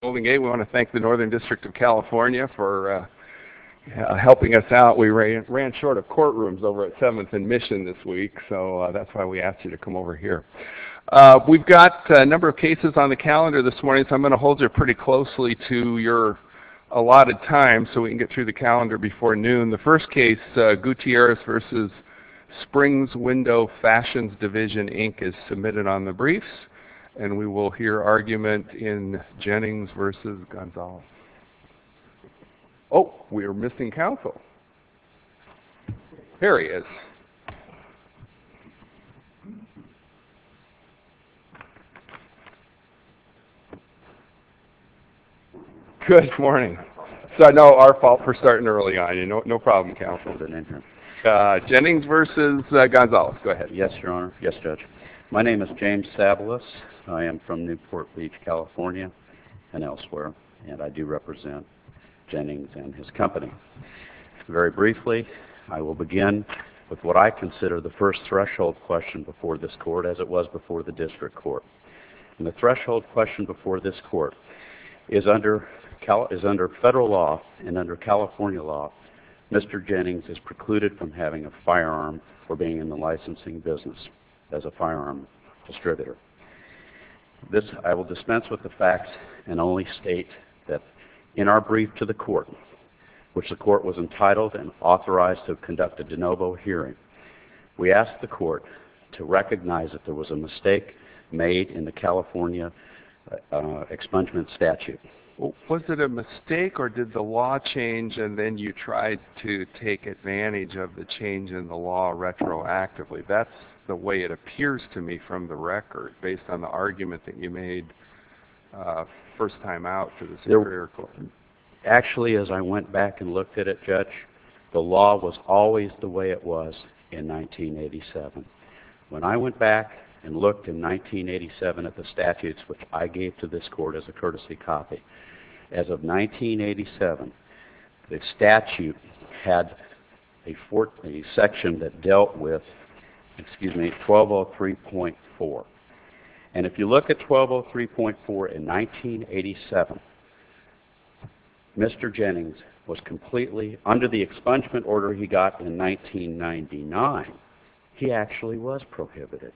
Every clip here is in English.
We want to thank the Northern District of California for helping us out. We ran short of courtrooms over at 7th and Mission this week, so that's why we asked you to come over here. We've got a number of cases on the calendar this morning, so I'm going to hold you pretty closely to your allotted time so we can get through the calendar before noon. The first case, Gutierrez v. Springs Window Fashions Division, Inc., is submitted on the briefs, and we will hear argument in Jennings v. Gonzales. Oh, we are missing counsel. Here he is. Good morning. So no, our fault for starting early on. No problem, counsel. Jennings v. Gonzales. Go ahead. Yes, Your Honor. Yes, Judge. My name is James Sabalus. I am from Newport Beach, California and elsewhere, and I do represent Jennings and his company. Very briefly, I will begin with what I consider the first threshold question before this court, as it was before the district court. The threshold question before this court is under federal law and under California law, Mr. Jennings is precluded from having a firearm or being in the licensing business as a firearm distributor. This, I will dispense with the facts and only state that in our brief to the court, which the court was entitled and authorized to conduct a de novo hearing, we asked the court to recognize that there was a mistake made in the California expungement statute. Was it a mistake or did the law change and then you tried to take the law retroactively? That's the way it appears to me from the record, based on the argument that you made first time out to the Superior Court. Actually, as I went back and looked at it, Judge, the law was always the way it was in 1987. When I went back and looked in 1987 at the statutes, which I gave to this court as a courtesy copy, as of 1987, the section that dealt with, excuse me, 1203.4. And if you look at 1203.4 in 1987, Mr. Jennings was completely under the expungement order he got in 1999. He actually was prohibited.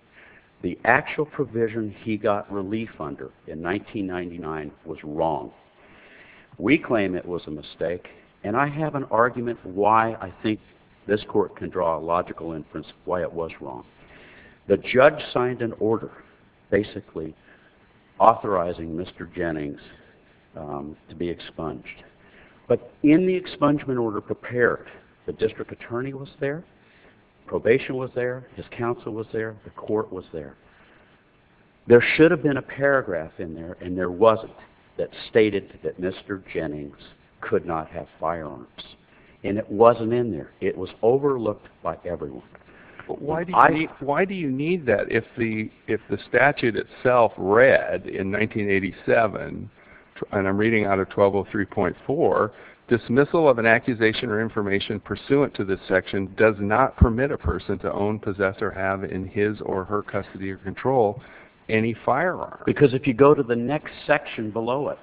The actual provision he got relief under in 1999 was wrong. We claim it was a mistake and I have an argument why I think this court can draw a logical inference why it was wrong. The judge signed an order basically authorizing Mr. Jennings to be expunged. But in the expungement order prepared, the district attorney was there, probation was there, his counsel was there, the court was there. There should have been a paragraph in there and there wasn't that stated that Mr. Jennings could not have firearms. And it wasn't in there. It was overlooked by everyone. Why do you need that if the statute itself read in 1987, and I'm reading out of 1203.4, dismissal of an accusation or information pursuant to this section does not permit a person to own, possess, or have in his or her custody or control any firearm? Because if you go to the next section below it,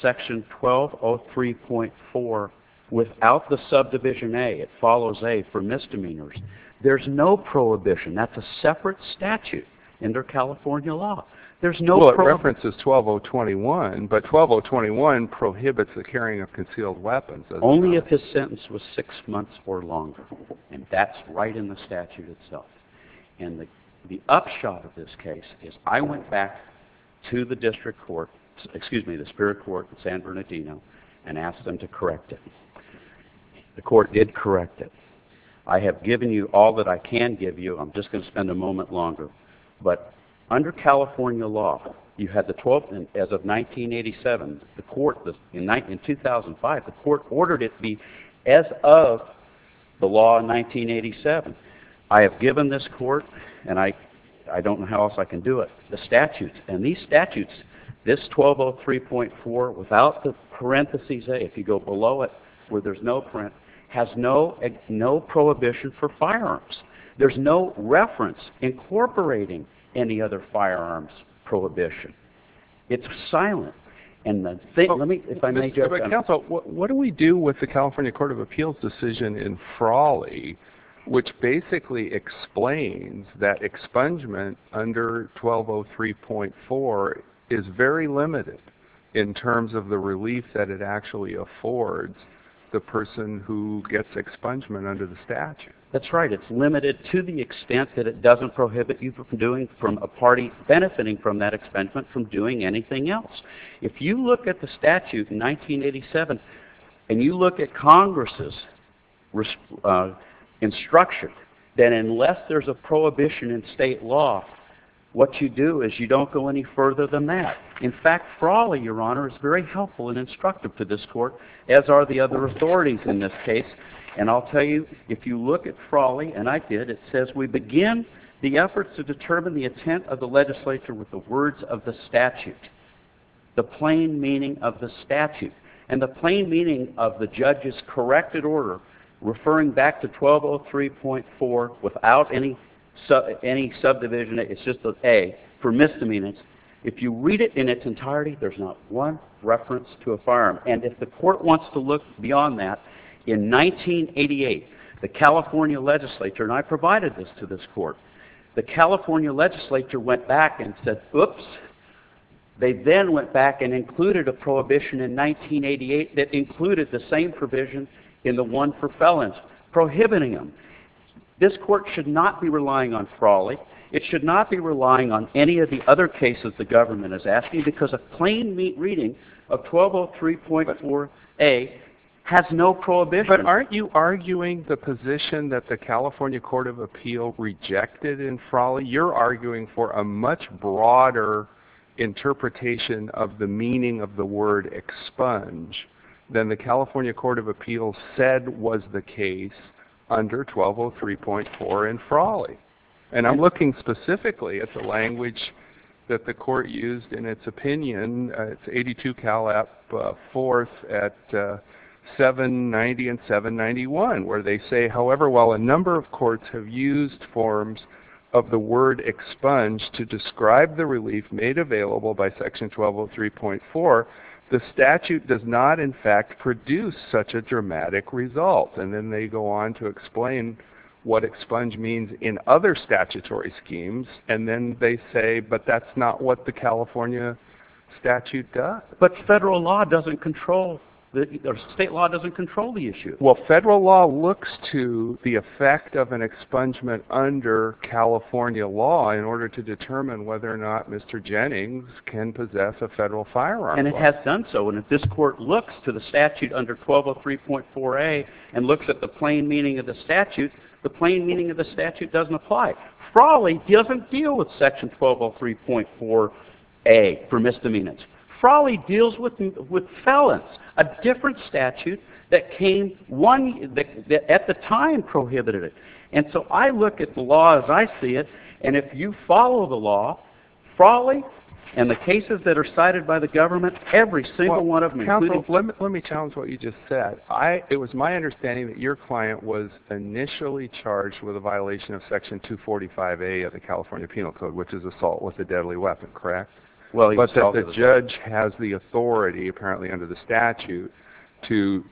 section 1203.4, without the subdivision A, it follows A for misdemeanors. There's no prohibition. That's a separate statute under California law. There's no prohibition. Well, it references 12021, but 12021 prohibits the carrying of concealed weapons. Only if his sentence was six months or longer. And that's right in the statute itself. And the upshot of this case is I went back to the district court, excuse me, the spirit court in San Bernardino, and asked them to correct it. The court did correct it. I have given you all that I can give you. I'm just going to spend a moment longer. But under California law, you had the 12th and as of 1987, the court, in 2005, the court ordered it be as of the law in 1987. I have given this court, and I don't know how else I can do it, the statutes. And these statutes, this 1203.4, without the parentheses A, if you go below it, where there's no parentheses, has no prohibition for firearms. There's no reference incorporating any other firearms prohibition. It's silent. But counsel, what do we do with the California Court of Appeals decision in Frawley, which basically explains that expungement under 1203.4 is very limited in terms of the relief that it actually affords the person who gets expungement under the statute? That's right. It's limited to the extent that it doesn't prohibit you from doing, from a If you look at the statute in 1987, and you look at Congress's instruction, then unless there's a prohibition in state law, what you do is you don't go any further than that. In fact, Frawley, Your Honor, is very helpful and instructive to this court, as are the other authorities in this case. And I'll tell you, if you look at Frawley, and I did, it says we begin the efforts to determine the intent of the legislature with the words of the statute, the plain meaning of the statute, and the plain meaning of the judge's corrected order referring back to 1203.4 without any subdivision, it's just an A for misdemeanors. If you read it in its entirety, there's not one reference to a firearm. And if the court wants to look beyond that, in 1988, the California legislature, and I provided this to this court, the California legislature went back and said, oops. They then went back and included a prohibition in 1988 that included the same provision in the one for felons, prohibiting them. This court should not be relying on Frawley. It should not be relying on any of the other cases the government is asking, because a plain reading of 1203.4A has no prohibition. But aren't you arguing the position that the California Court of Appeal rejected in Frawley? You're arguing for a much broader interpretation of the meaning of the word expunge than the California Court of Appeal said was the case under 1203.4 in Frawley. And I'm looking specifically at the language that the court used in its opinion. It's 82 Cal. App. 4th at 790 and 791, where they say, however, while a number of courts have used forms of the word expunge to describe the relief made available by section 1203.4, the statute does not, in fact, produce such a dramatic result. And then they go on to explain what expunge means in other statutory schemes, and then they say, but that's not what the California statute does. But federal law doesn't control, or state law doesn't control the issue. Well, federal law looks to the effect of an expungement under California law in order to determine whether or not Mr. Jennings can possess a federal firearm. And it has done so. And if this court looks to the statute under 1203.4A and looks at the plain meaning of the statute, the plain meaning of the statute doesn't apply. Frawley doesn't deal with section 1203.4A for misdemeanors. Frawley deals with felons, a different statute that came one, that at the time prohibited it. And so I look at the law as I see it, and if you follow the law, Frawley and the cases that are cited by the government, every single one of them, including... Counsel, let me challenge what you just said. It was my understanding that your client was in California Penal Code, which is assault with a deadly weapon, correct? Well, he was assaulted with a weapon. But that the judge has the authority, apparently under the statute, to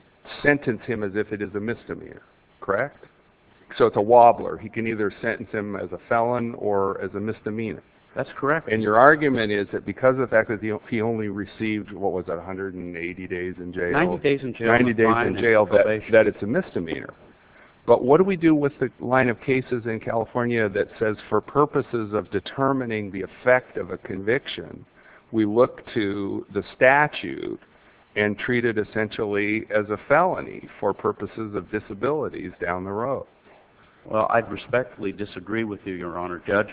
sentence him as if it is a misdemeanor, correct? So it's a wobbler. He can either sentence him as a felon or as a misdemeanor. That's correct. And your argument is that because of the fact that he only received, what was that, 180 days in jail? 90 days in jail. 90 days in jail that it's a misdemeanor. But what do we do with the line of cases in California that says, for purposes of determining the effect of a conviction, we look to the statute and treat it essentially as a felony for purposes of disabilities down the road? Well, I respectfully disagree with you, Your Honor. Judge,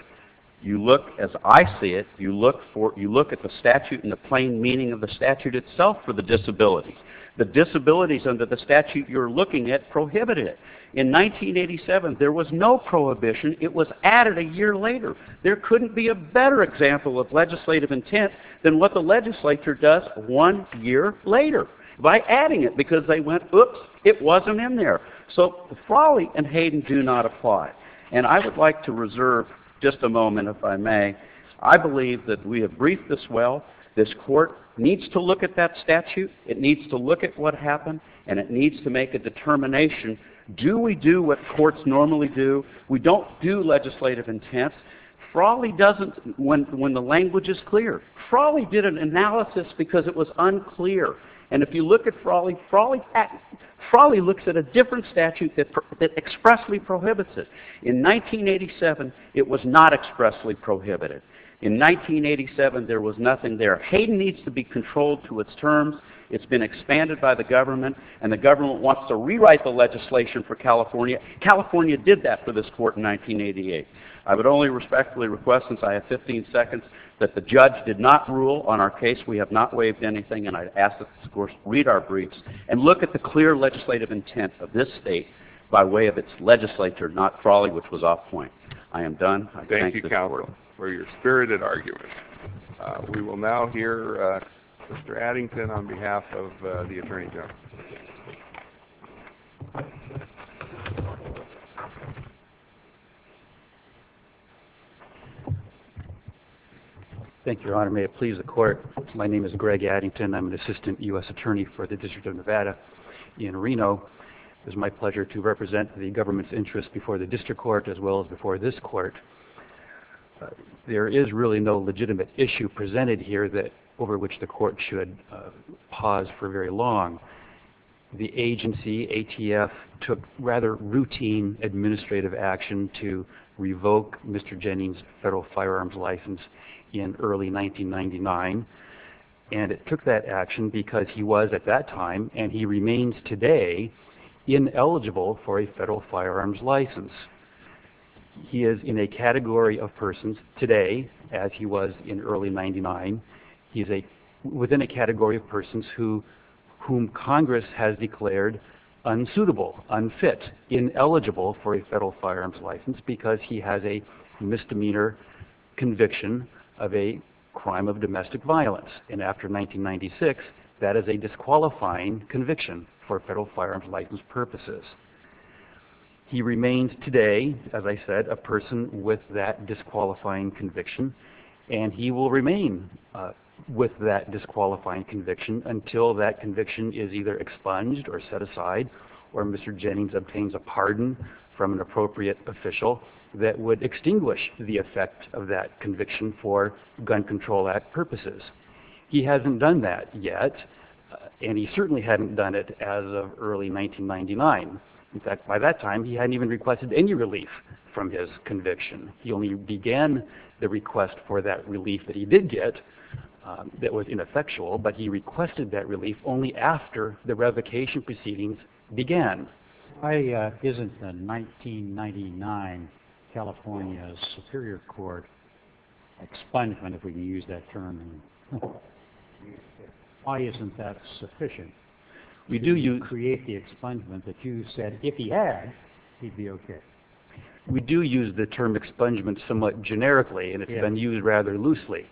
you look as I see it, you look at the statute and the plain meaning of the statute itself for the disability. The disabilities under the statute you're looking at prohibited it. In 1987, there was no prohibition. It was added a year later. There couldn't be a better example of legislative intent than what the legislature does one year later by adding it because they went, oops, it wasn't in there. So Frawley and Hayden do not apply. And I would like to reserve just a moment, if I may. I believe that we have briefed this well. This court needs to look at that statute. It needs to look at what happened. And it Frawley doesn't when the language is clear. Frawley did an analysis because it was unclear. And if you look at Frawley, Frawley looks at a different statute that expressly prohibits it. In 1987, it was not expressly prohibited. In 1987, there was nothing there. Hayden needs to be controlled to its terms. It's been expanded by the government. And the government wants to rewrite the legislation for California. California did that for this court in 1988. I would only respectfully request, since I have 15 seconds, that the judge did not rule on our case. We have not waived anything. And I ask that this court read our briefs and look at the clear legislative intent of this state by way of its legislature, not Frawley, which was off point. I am done. I thank the court. Thank you, Counselor, for your spirited argument. We will now hear Mr. Addington on behalf of the attorney general. Thank you, Your Honor. May it please the court. My name is Greg Addington. I'm an assistant U.S. attorney for the District of Nevada in Reno. It is my pleasure to represent the government's interest before the district court as well as before this court. There is really no legitimate issue presented here that over which the court should pause for very long. The agency, ATF, took rather routine administrative action to revoke Mr. Jennings' federal firearms license in early 1999. And it took that action because he was at that time, and he remains today, ineligible for a federal firearms license. He is in a category of persons today, as he was in early 1999. He is within a category of persons whom Congress has declared unsuitable, unfit, ineligible for a federal firearms license because he has a misdemeanor conviction of a crime of domestic violence. And after 1996, that is a disqualifying conviction for federal firearms license purposes. He remains today, as I said, a person with that disqualifying conviction, and he will remain with that disqualifying conviction until that conviction is either expunged or set aside or Mr. Jennings obtains a pardon from an appropriate official that would extinguish the effect of that conviction for Gun Control Act purposes. He hasn't done that yet, and he certainly hadn't done it as of early 1999. In fact, by that time, he hadn't even requested any relief from his conviction. He only began the request for that relief that he did get that was ineffectual, but he requested that relief only after the revocation proceedings began. Why isn't the 1999 California Superior Court expungement, if we can use that term, why do you create the expungement that you said if he had, he'd be okay? We do use the term expungement somewhat generically, and it's been used rather loosely.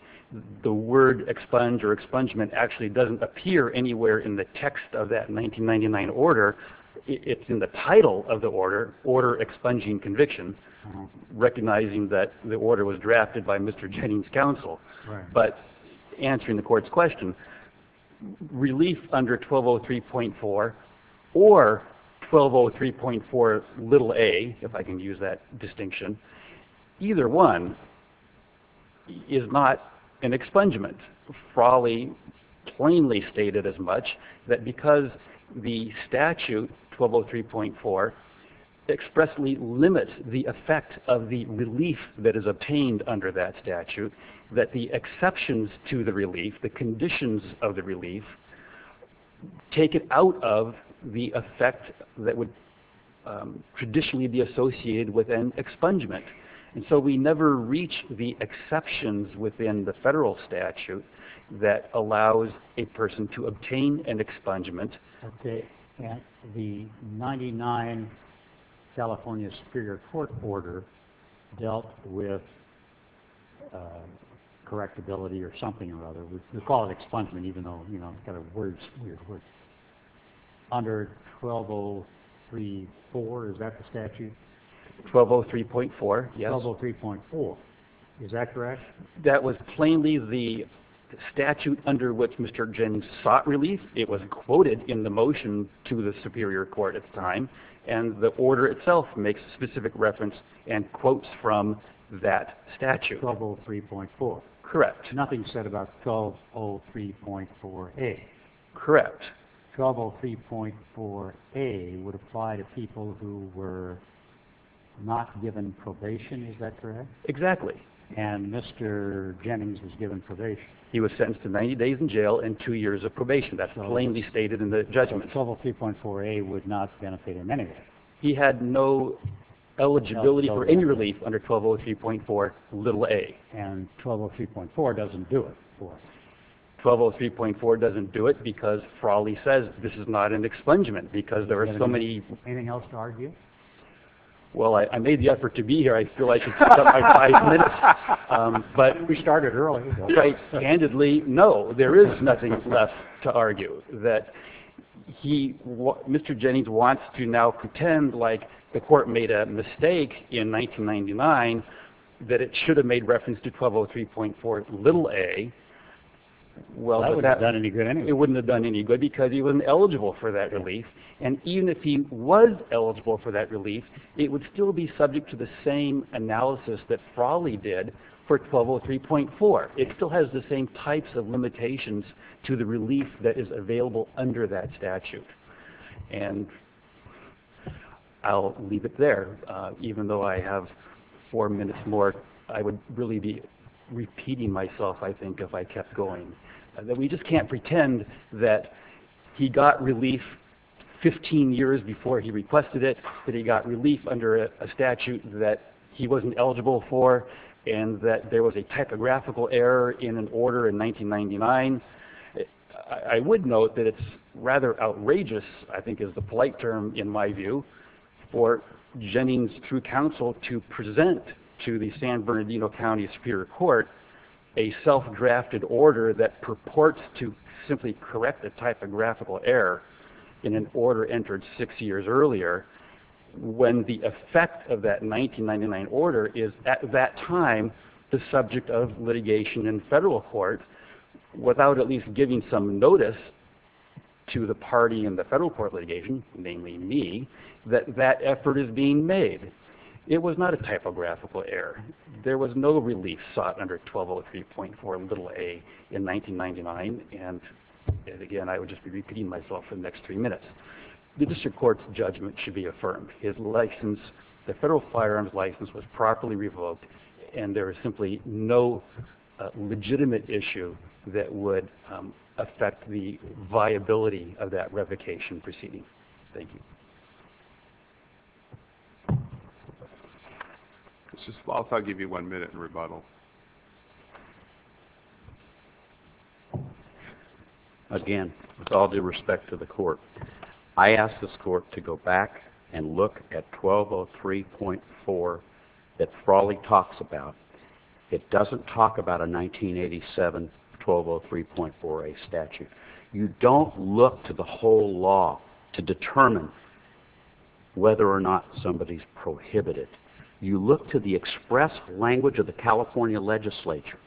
The word expunge or expungement actually doesn't appear anywhere in the text of that 1999 order. It's in the title of the order, Order Expunging Conviction, recognizing that the order was drafted by Mr. Jennings' counsel, but answering the court's question, relief under 1203.4 or 1203.4a, if I can use that distinction, either one is not an expungement. Frawley plainly stated as much that because the statute 1203.4 expressly limits the effect of the relief that is obtained under that statute, that the exceptions to the relief, the conditions of the relief, take it out of the effect that would traditionally be associated with an expungement, and so we never reach the exceptions within the federal statute that allows a person to obtain an expungement. Okay, and the 99 California Superior Court order dealt with correctability or something or other. We call it expungement even though, you know, it's got a weird word. Under 1203.4, is that the statute? 1203.4, yes. 1203.4, is that correct? That was plainly the statute under which Mr. Jennings sought relief. It was quoted in the motion to the Superior Court at the time, and the order itself makes a specific reference and quotes from that statute. 1203.4. Correct. Nothing said about 1203.4A. Correct. 1203.4A would apply to people who were not given probation, is that correct? Exactly. And Mr. Jennings was given probation. He was sentenced to 90 days in jail and two years of probation. That's plainly stated in the judgment. 1203.4A would not benefit in any way. He had no eligibility for any relief under 1203.4a. And 1203.4 doesn't do it for him. 1203.4 doesn't do it because, for all he says, this is not an expungement because there are so many... Anything else to argue? Well, I made the effort to be here. I feel I should pick up my five minutes. But we started early. Right. Candidly, no. There is nothing left to argue. That he, Mr. Jennings wants to now pretend like the court made a mistake in 1999 that it should have made reference to 1203.4a. That wouldn't have done any good anyway. It wouldn't have done any good because he wasn't eligible for that relief. And even if he was eligible for that relief, it would still be subject to the same analysis that Frawley did for 1203.4. It still has the same types of limitations to the relief that is available under that statute. And I'll leave it there. Even though I have four minutes more, I would really be repeating myself, I think, if I kept going. We just can't pretend that he got relief 15 years before he requested it, that he got relief under a statute that he wasn't eligible for, and that there was a typographical error in an order in 1999. I would note that it's rather outrageous, I think is the polite term in my view, for Jennings through counsel to present to the San Bernardino County Superior Court a self-drafted order that purports to simply correct a typographical error in an order entered six years earlier when the effect of that 1999 order is at that time the subject of litigation in federal court without at least giving some notice to the party in the federal court litigation, namely me, that that effort is being made. It was not a typographical error. There was no relief sought under 1203.4a in 1999, and again, I would just be repeating myself for the next three minutes. The district court's judgment should be affirmed. His license, the federal firearms license, was properly revoked, and there is simply no legitimate issue that would affect the viability of that revocation proceeding. Thank you. Mr. Spaltz, I'll give you one minute in rebuttal. Again, with all due respect to the court, I ask this court to go back and look at 1203.4a that Frawley talks about. It doesn't talk about a 1987 1203.4a statute. You don't look to the whole law to determine whether or not somebody's prohibited. You look to the express language of the California legislature.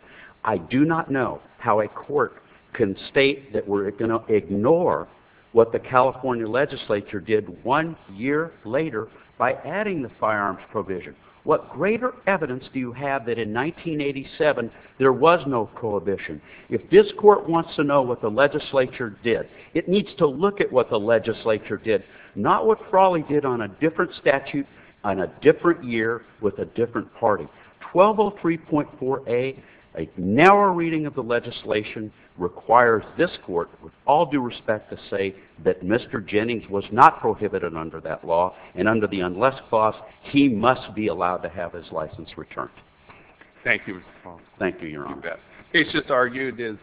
I do not know how a court can state that we're going to ignore what the California legislature did one year later by adding the firearms provision. What greater evidence do you have that in 1987 there was no prohibition? If this court wants to know what the legislature did, it needs to look at what the legislature did, not what Frawley did on a different statute on a different year with a different party. 1203.4a, a narrow reading of the legislation, requires this court, with all due respect to say, that Mr. Jennings was not prohibited under that law, and under the unless clause, he must be allowed to have his license returned. Thank you, Mr. Paul. Thank you, Your Honor. You bet. It's just argued as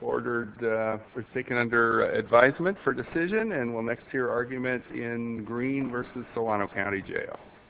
ordered, or taken under advisement for decision, and we'll next hear arguments in Greene v. Solano County Jail.